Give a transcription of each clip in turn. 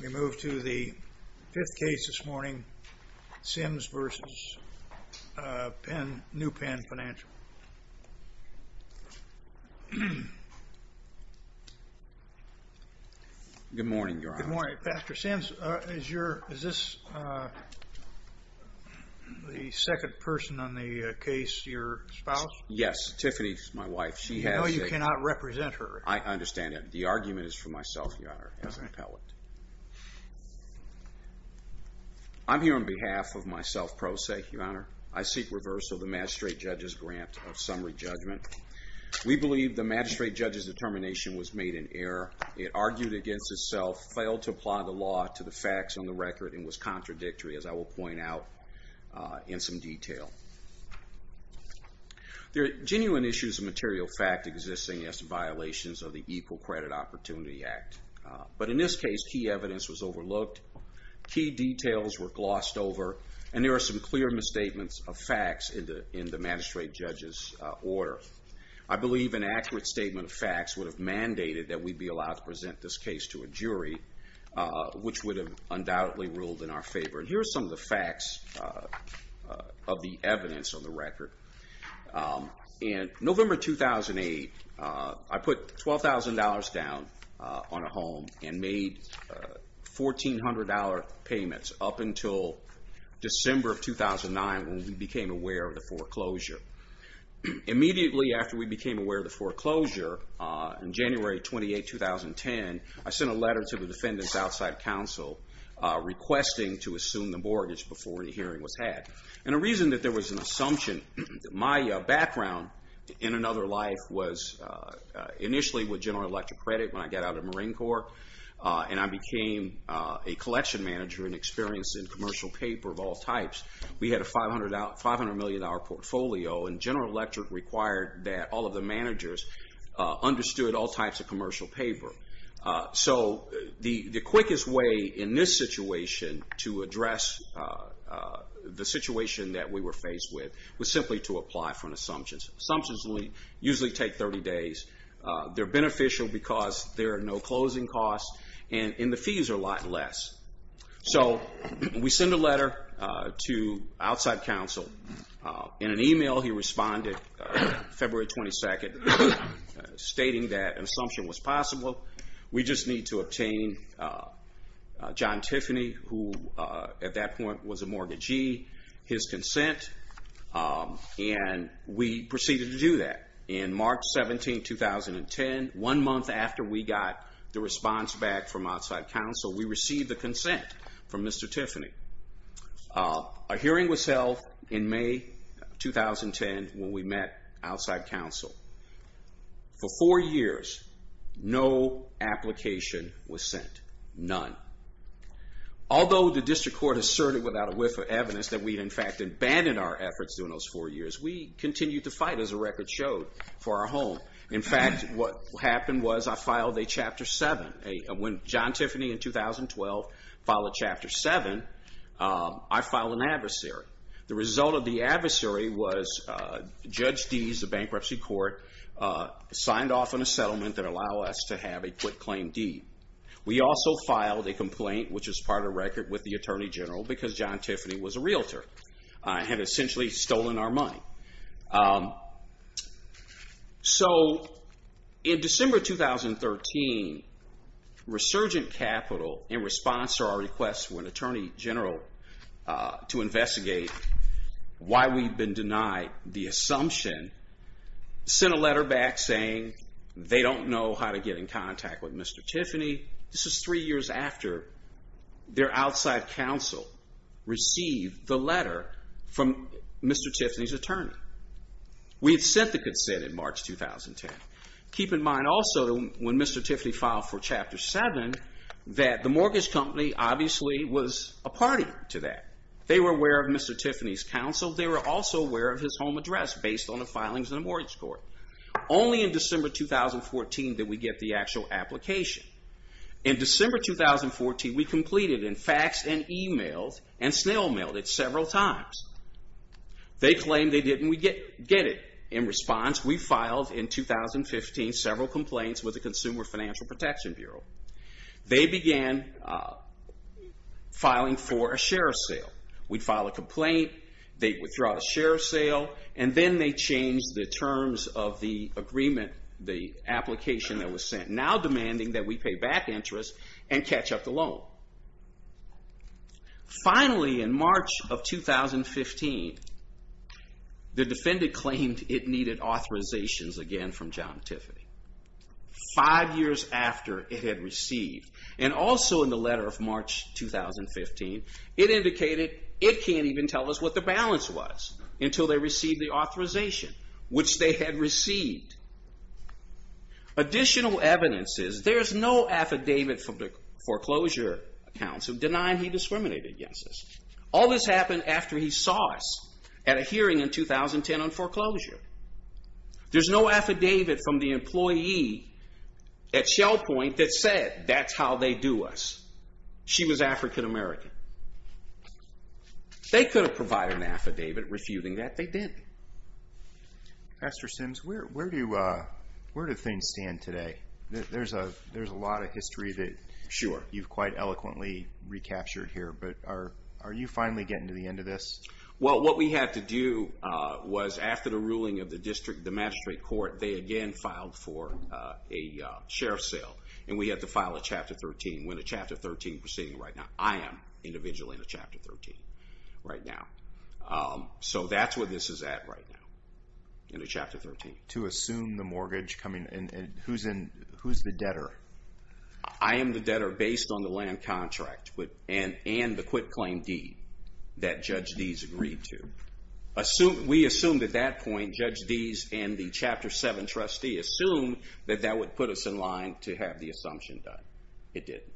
We move to the fifth case this morning, Sims v. New Penn Financial. Good morning, Your Honor. Good morning, Pastor Sims. Is this the second person on the case, your spouse? Yes, Tiffany is my wife. She has a... I know you cannot represent her. I understand that. The argument is for myself, Your Honor, as an appellant. I'm here on behalf of myself, Pro Se, Your Honor. I seek reversal of the magistrate judge's grant of summary judgment. We believe the magistrate judge's determination was made in error. It argued against itself, failed to apply the law to the facts on the record, and was contradictory, as I will point out in some detail. There are genuine issues of material fact existing as violations of the Equal Credit Opportunity Act. But in this case, key evidence was overlooked, key details were glossed over, and there are some clear misstatements of facts in the magistrate judge's order. I believe an accurate statement of facts would have mandated that we be allowed to present this case to a jury, which would have undoubtedly ruled in our favor. Here are some of the facts of the evidence on the record. In November 2008, I put $12,000 down on a home and made $1,400 payments up until December of 2009, when we became aware of the foreclosure. Immediately after we became aware of the foreclosure, in January 28, 2010, I sent a letter to the defendant's outside counsel requesting to assume the mortgage before the hearing was had. And the reason that there was an assumption, my background in another life was initially with General Electric Credit when I got out of Marine Corps, and I became a collection manager and experienced in commercial paper of all types. We had a $500 million portfolio, and General Electric required that all of the managers understood all types of commercial paper. So the quickest way in this situation to address the situation that we were faced with was simply to apply for an assumption. Assumptions usually take 30 days. They're beneficial because there are no closing costs, and the fees are a lot less. So we sent a letter to outside counsel. In an email, he responded February 22, stating that an assumption was possible. We just need to obtain John Tiffany, who at that point was a mortgagee, his consent, and we proceeded to do that. In March 17, 2010, one month after we got the response back from outside counsel, we received the consent from Mr. Tiffany. A hearing was held in May 2010 when we met outside counsel. For four years, no application was sent, none. Although the district court asserted without a whiff of evidence that we had in fact abandoned our efforts during those four years, we continued to fight, as the record showed, for our home. In fact, what happened was I filed a Chapter 7. When John Tiffany, in 2012, filed a Chapter 7, I filed an adversary. The result of the adversary was Judge Deese, the bankruptcy court, signed off on a settlement that allowed us to have a quit-claim deed. We also filed a complaint, which is part of the record, with the Attorney General because John Tiffany was a realtor and had essentially stolen our money. In December 2013, Resurgent Capital, in response to our request for an Attorney General to investigate why we'd been denied the assumption, sent a letter back saying they don't know how to get in contact with Mr. Tiffany. This is three years after their outside counsel received the letter from Mr. Tiffany's attorney. We had sent the consent in March 2010. Keep in mind also, when Mr. Tiffany filed for Chapter 7, that the mortgage company obviously was a party to that. They were aware of Mr. Tiffany's counsel. They were also aware of his home address based on the filings in the mortgage court. Only in December 2014 did we get the actual application. In December 2014, we completed and faxed and emailed and snail-mailed it several times. They claimed they didn't get it. In response, we filed in 2015 several complaints with the Consumer Financial Protection Bureau. They began filing for a share sale. We'd file a complaint. They'd withdraw the share sale, and then they changed the terms of the agreement, the application that was sent, now demanding that we pay back interest and catch up the loan. Finally, in March of 2015, the defendant claimed it needed authorizations again from John Tiffany. Five years after it had received, and also in the letter of March 2015, it indicated it can't even tell us what the balance was until they received the authorization, which they had received. Additional evidence is there's no affidavit from the foreclosure counsel denying he discriminated against us. All this happened after he saw us at a hearing in 2010 on foreclosure. There's no affidavit from the employee at ShellPoint that said that's how they do us. She was African American. They could have provided an affidavit refuting that. They didn't. Pastor Sims, where do things stand today? There's a lot of history that you've quite eloquently recaptured here, but are you finally getting to the end of this? Well, what we had to do was after the ruling of the magistrate court, they again filed for a share sale, and we had to file a Chapter 13. We're in a Chapter 13 proceeding right now. I am individually in a Chapter 13 right now. So that's where this is at right now, in a Chapter 13. To assume the mortgage, and who's the debtor? I am the debtor based on the land contract and the quitclaim deed that Judge Deese agreed to. We assumed at that point, Judge Deese and the Chapter 7 trustee assumed that that would put us in line to have the assumption done. It didn't.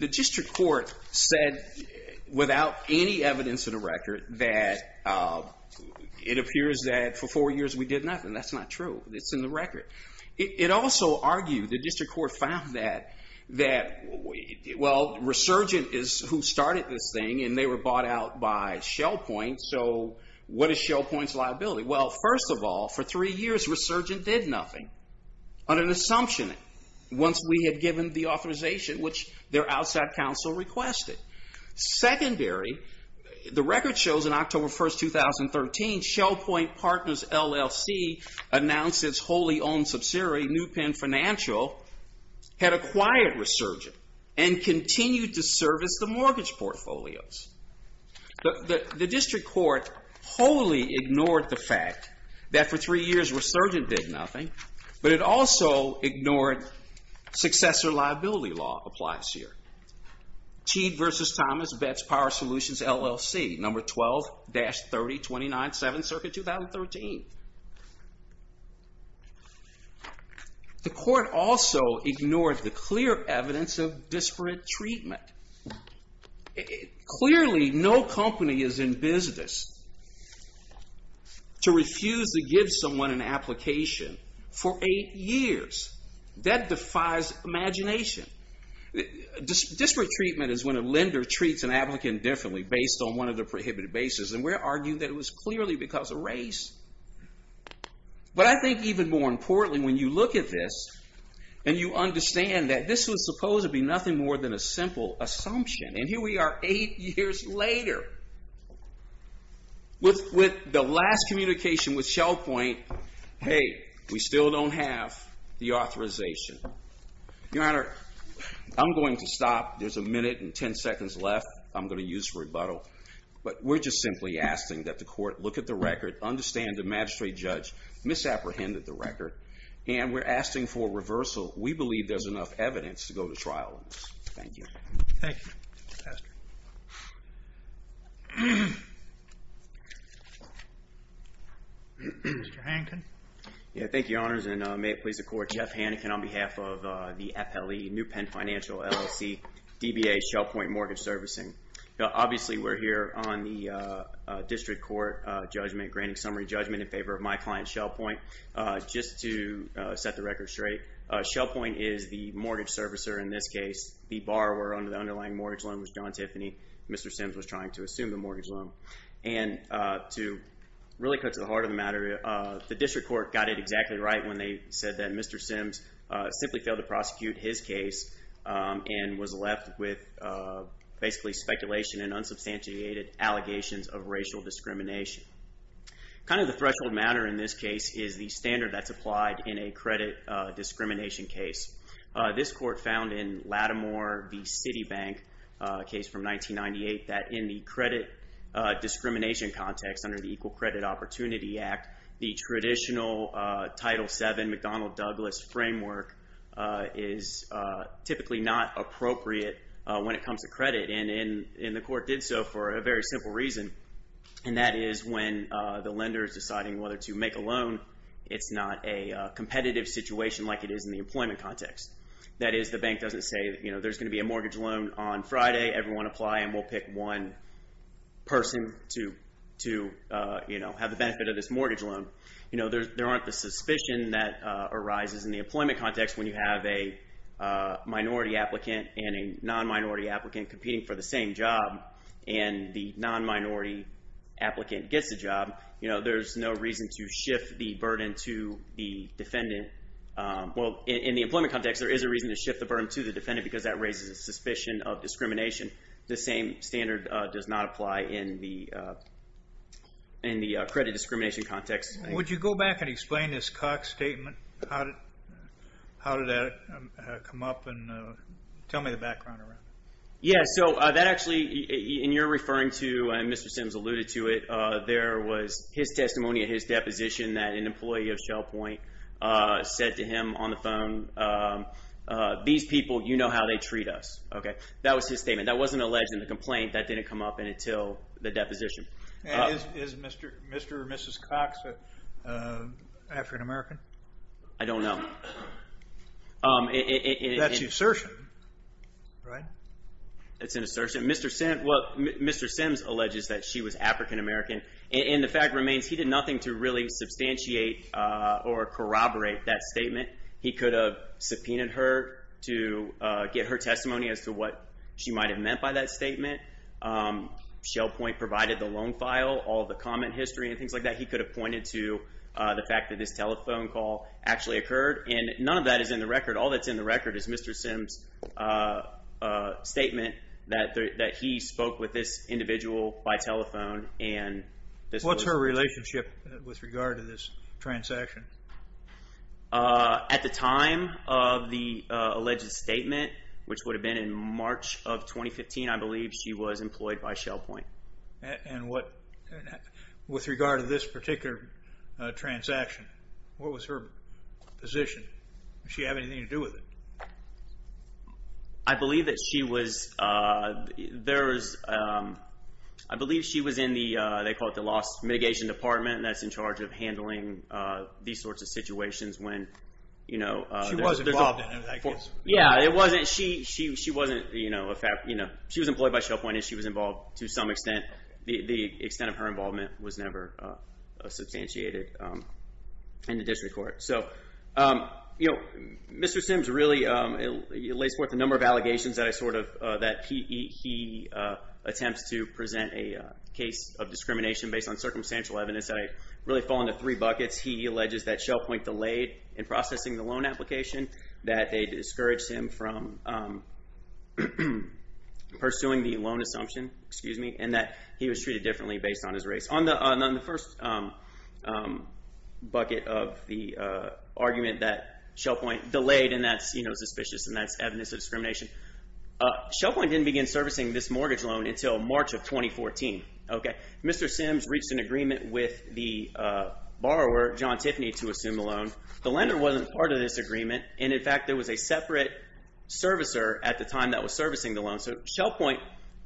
The district court said without any evidence in the record that it appears that for four years we did nothing. That's not true. It's in the record. It also argued, the district court found that, well, Resurgent is who started this thing, and they were bought out by ShellPoint. So what is ShellPoint's liability? Well, first of all, for three years Resurgent did nothing on an assumption once we had given the authorization, which their outside counsel requested. Secondary, the record shows on October 1st, 2013, ShellPoint Partners LLC announced its wholly owned subsidiary, New Penn Financial, had acquired Resurgent and continued to service the mortgage portfolios. The district court wholly ignored the fact that for three years Resurgent did nothing, but it also ignored successor liability law applies here. Teague v. Thomas Bets Power Solutions LLC, number 12-3029-7, circuit 2013. The court also ignored the clear evidence of disparate treatment. Clearly, no company is in business to refuse to give someone an application for eight years. That defies imagination. Disparate treatment is when a lender treats an applicant differently based on one of their prohibited basis, and we're arguing that it was clearly because of race. But I think even more importantly, when you look at this and you understand that this was supposed to be nothing more than a simple assumption, and here we are eight years later with the last communication with ShellPoint, hey, we still don't have the authorization. Your Honor, I'm going to stop. There's a minute and 10 seconds left. I'm going to use rebuttal, but we're just simply asking that the court look at the record, understand the magistrate judge misapprehended the record, and we're asking for reversal. We believe there's enough evidence to go to trial on this. Thank you. Thank you, Mr. Pastor. Mr. Hankin. Yeah, thank you, Your Honors, and may it please the court, Jeff Hankin on behalf of the FLE, New Penn Financial LLC, DBA, ShellPoint Mortgage Servicing. Obviously, we're here on the district court judgment, granting summary judgment in favor of my client, ShellPoint. Just to set the record straight, ShellPoint is the mortgage servicer in this case. The borrower under the underlying mortgage loan was John Tiffany. Mr. Sims was trying to assume the mortgage loan, and to really cut to the heart of the matter, the district court got it exactly right when they said that Mr. Sims simply failed to prosecute his case and was left with basically speculation and unsubstantiated allegations of racial discrimination. Kind of the threshold matter in this case is the standard that's applied in a credit discrimination case. This court found in Lattimore v. Citibank, a case from 1998, that in the credit discrimination context under the Equal Credit Opportunity Act, the traditional Title VII McDonnell-Douglas framework is typically not appropriate when it comes to credit, and the court did so for a very simple reason, and that is when the lender is deciding whether to make a loan, it's not a competitive situation like it is in the employment context. That is, the bank doesn't say, you know, there's going to be a mortgage loan on Friday, everyone apply, and we'll pick one person to, you know, have the benefit of this mortgage loan. You know, there aren't the suspicion that arises in the employment context when you have a minority applicant and a non-minority applicant competing for the same job, and the non-minority applicant gets the job. You know, there's no reason to shift the burden to the defendant. Well, in the employment context, there is a reason to shift the burden to the defendant because that raises a suspicion of discrimination. The same standard does not apply in the credit discrimination context. Would you go back and explain this Cox statement? How did that come up? And tell me the background around it. Yeah, so that actually, and you're referring to, and Mr. Sims alluded to it, there was his testimony at his deposition that an employee of Shell Point said to him on the phone, these people, you know how they treat us. Okay, that was his statement. That wasn't alleged in the complaint. That didn't come up until the deposition. Is Mr. or Mrs. Cox African-American? I don't know. That's an assertion, right? That's an assertion. Mr. Sims alleges that she was African-American, and the fact remains, he did nothing to really substantiate or corroborate that statement. He could have subpoenaed her to get her testimony as to what she might have meant by that statement. Shell Point provided the loan file, all the comment history and things like that. He could have pointed to the fact that this telephone call actually occurred, and none of that is in the record. All that's in the record is Mr. Sims' statement that he spoke with this individual by telephone. What's her relationship with regard to this transaction? At the time of the alleged statement, which would have been in March of 2015, I believe she was employed by Shell Point. And with regard to this particular transaction, what was her position? Did she have anything to do with it? I believe that she was in the, they call it the Lost Mitigation Department, and that's in charge of handling these sorts of situations when, you know. She was involved in it, I guess. Yeah, it wasn't, she wasn't, you know. She was employed by Shell Point and she was involved to some extent. The extent of her involvement was never substantiated in the district court. So, you know, Mr. Sims really lays forth a number of allegations that I sort of, that he attempts to present a case of discrimination based on circumstantial evidence. I really fall into three buckets. He alleges that Shell Point delayed in processing the loan application, that they discouraged him from pursuing the loan assumption, excuse me, and that he was treated differently based on his race. On the first bucket of the argument that Shell Point delayed, and that's, you know, suspicious and that's evidence of discrimination, Shell Point didn't begin servicing this mortgage loan until March of 2014. Okay. Mr. Sims reached an agreement with the borrower, John Tiffany, to assume the loan. The lender wasn't part of this agreement. And, in fact, there was a separate servicer at the time that was servicing the loan. So Shell Point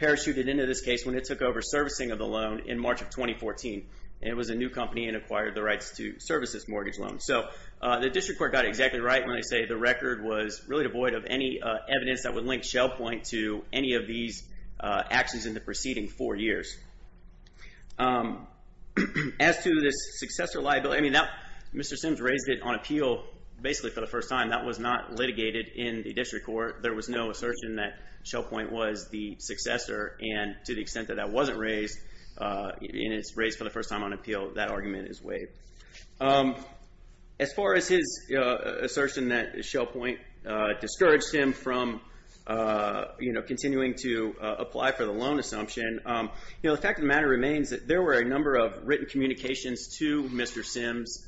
parachuted into this case when it took over servicing of the loan in March of 2014. And it was a new company and acquired the rights to service this mortgage loan. So the district court got exactly right when they say the record was really devoid of any evidence that would link Shell Point to any of these actions in the preceding four years. As to this successor liability, I mean, Mr. Sims raised it on appeal basically for the first time. That was not litigated in the district court. There was no assertion that Shell Point was the successor. And to the extent that that wasn't raised, and it's raised for the first time on appeal, that argument is waived. As far as his assertion that Shell Point discouraged him from, you know, the fact of the matter remains that there were a number of written communications to Mr. Sims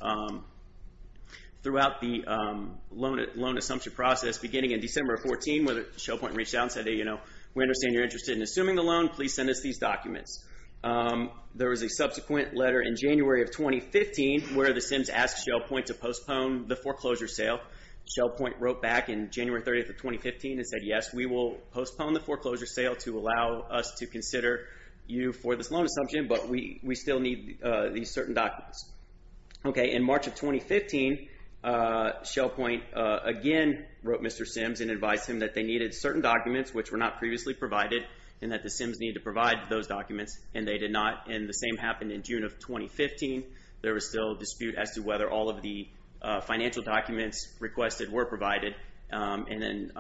throughout the loan assumption process beginning in December of 2014 where Shell Point reached out and said, you know, we understand you're interested in assuming the loan. Please send us these documents. There was a subsequent letter in January of 2015 where the Sims asked Shell Point to postpone the foreclosure sale. Shell Point wrote back in January 30th of 2015 and said, yes, we will postpone the foreclosure sale to allow us to consider you for this loan assumption, but we still need these certain documents. Okay. In March of 2015, Shell Point again wrote Mr. Sims and advised him that they needed certain documents which were not previously provided and that the Sims needed to provide those documents, and they did not. And the same happened in June of 2015. There was still a dispute as to whether all of the financial documents requested were provided. And then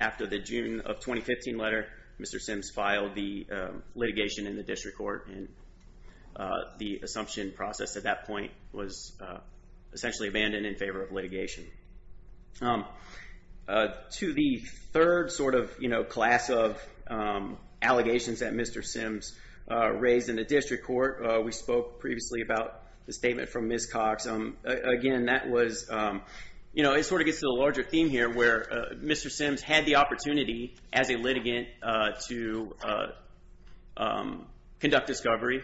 after the June of 2015 letter, Mr. Sims filed the litigation in the district court, and the assumption process at that point was essentially abandoned in favor of litigation. To the third sort of, you know, class of allegations that Mr. Sims raised in the district court, we spoke previously about the statement from Ms. Cox. Again, that was, you know, it sort of gets to the larger theme here where Mr. Sims had the opportunity as a litigant to conduct discovery,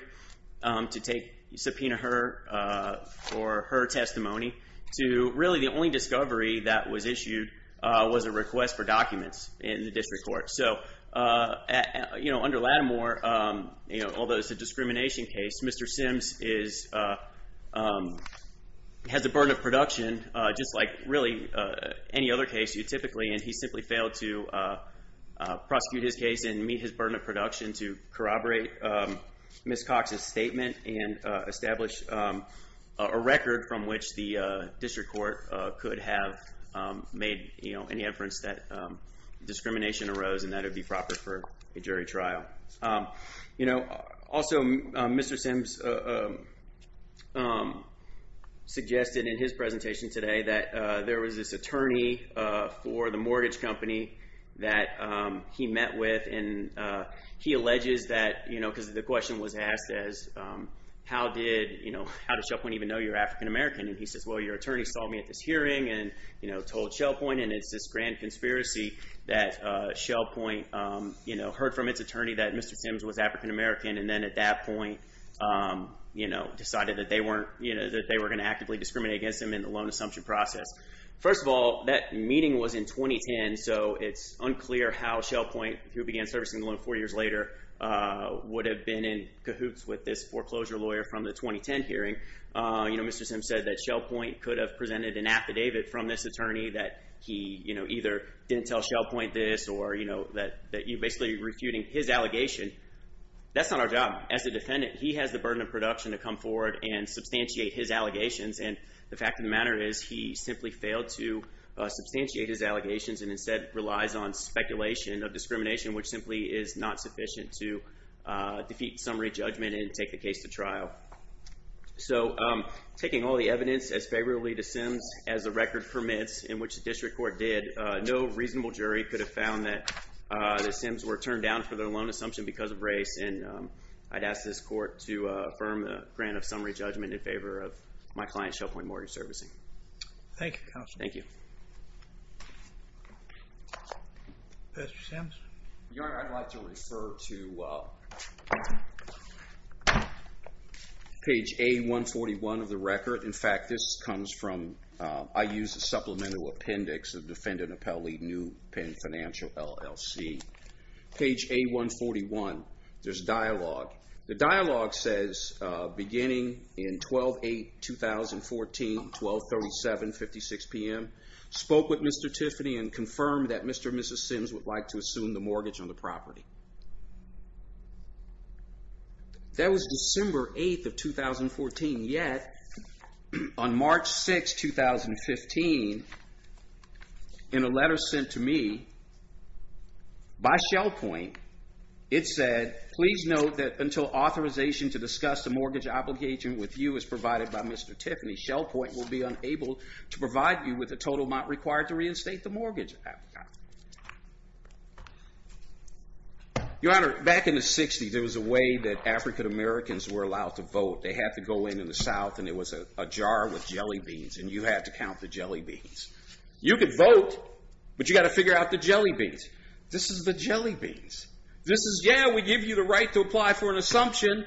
to take subpoena her for her testimony, to really the only discovery that was issued was a request for documents in the district court. So, you know, under Lattimore, you know, although it's a discrimination case, Mr. Sims has a burden of production just like really any other case you typically, and he simply failed to prosecute his case and meet his burden of production to corroborate Ms. Cox's statement and establish a record from which the district court could have made, you know, any inference that discrimination arose, and that it would be proper for a jury trial. You know, also Mr. Sims suggested in his presentation today that there was this attorney for the mortgage company that he met with, and he alleges that, you know, because the question was asked as how did, you know, how does someone even know you're African American? And he says, well, your attorney saw me at this hearing and, you know, told ShellPoint, and it's this grand conspiracy that ShellPoint, you know, heard from its attorney that Mr. Sims was African American, and then at that point, you know, decided that they weren't, you know, that they were going to actively discriminate against him in the loan assumption process. First of all, that meeting was in 2010, so it's unclear how ShellPoint, who began servicing the loan four years later, would have been in cahoots with this foreclosure lawyer from the 2010 hearing. You know, Mr. Sims said that ShellPoint could have presented an affidavit from this attorney that he, you know, either didn't tell ShellPoint this or, you know, that you're basically refuting his allegation. That's not our job. As a defendant, he has the burden of production to come forward and substantiate his allegations, and the fact of the matter is he simply failed to substantiate his allegations and instead relies on speculation of discrimination, which simply is not sufficient to defeat summary judgment and take the case to trial. So taking all the evidence as favorably to Sims as the record permits, in which the district court did, no reasonable jury could have found that the Sims were turned down for their loan assumption because of race, and I'd ask this court to affirm the grant of summary judgment in favor of my client, ShellPoint Mortgage Servicing. Thank you, Counselor. Thank you. Mr. Sims? Your Honor, I'd like to refer to... page A141 of the record. In fact, this comes from... I used a supplemental appendix of Defendant Appellee New Pen Financial, LLC. Page A141, there's a dialogue. The dialogue says, beginning in 12-8-2014, 12-37-56 p.m., spoke with Mr. Tiffany and confirmed that Mr. and Mrs. Sims would like to assume the mortgage on the property. That was December 8th of 2014. Yet, on March 6th, 2015, in a letter sent to me by ShellPoint, it said, please note that until authorization to discuss the mortgage obligation with you is provided by Mr. Tiffany, ShellPoint will be unable to provide you with the total amount required to reinstate the mortgage. Your Honor, back in the 60s, there was a way that African Americans were allowed to vote. They had to go in in the South, and it was a jar with jelly beans, and you had to count the jelly beans. You could vote, but you got to figure out the jelly beans. This is the jelly beans. This is, yeah, we give you the right to apply for an assumption,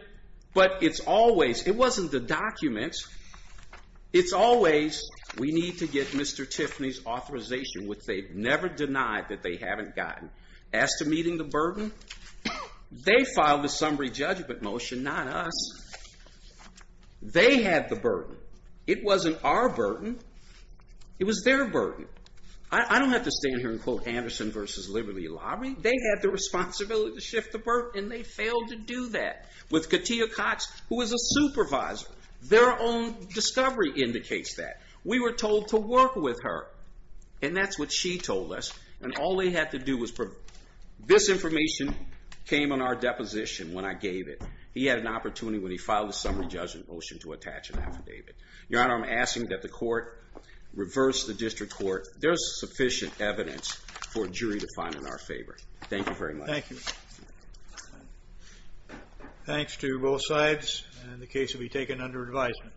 but it's always... It wasn't the documents. It's always, we need to get Mr. Tiffany's authorization which they've never denied that they haven't gotten. As to meeting the burden, they filed a summary judgment motion, not us. They had the burden. It wasn't our burden. It was their burden. I don't have to stand here and quote Anderson v. Liberty Lobby. They had the responsibility to shift the burden, and they failed to do that with Katia Cox, who was a supervisor. Their own discovery indicates that. We were told to work with her, and that's what she told us, and all they had to do was... This information came on our deposition when I gave it. He had an opportunity when he filed a summary judgment motion to attach an affidavit. Your Honor, I'm asking that the court reverse the district court. There's sufficient evidence for a jury to find in our favor. Thank you very much. Thank you. Thanks to both sides, and the case will be taken under advisement.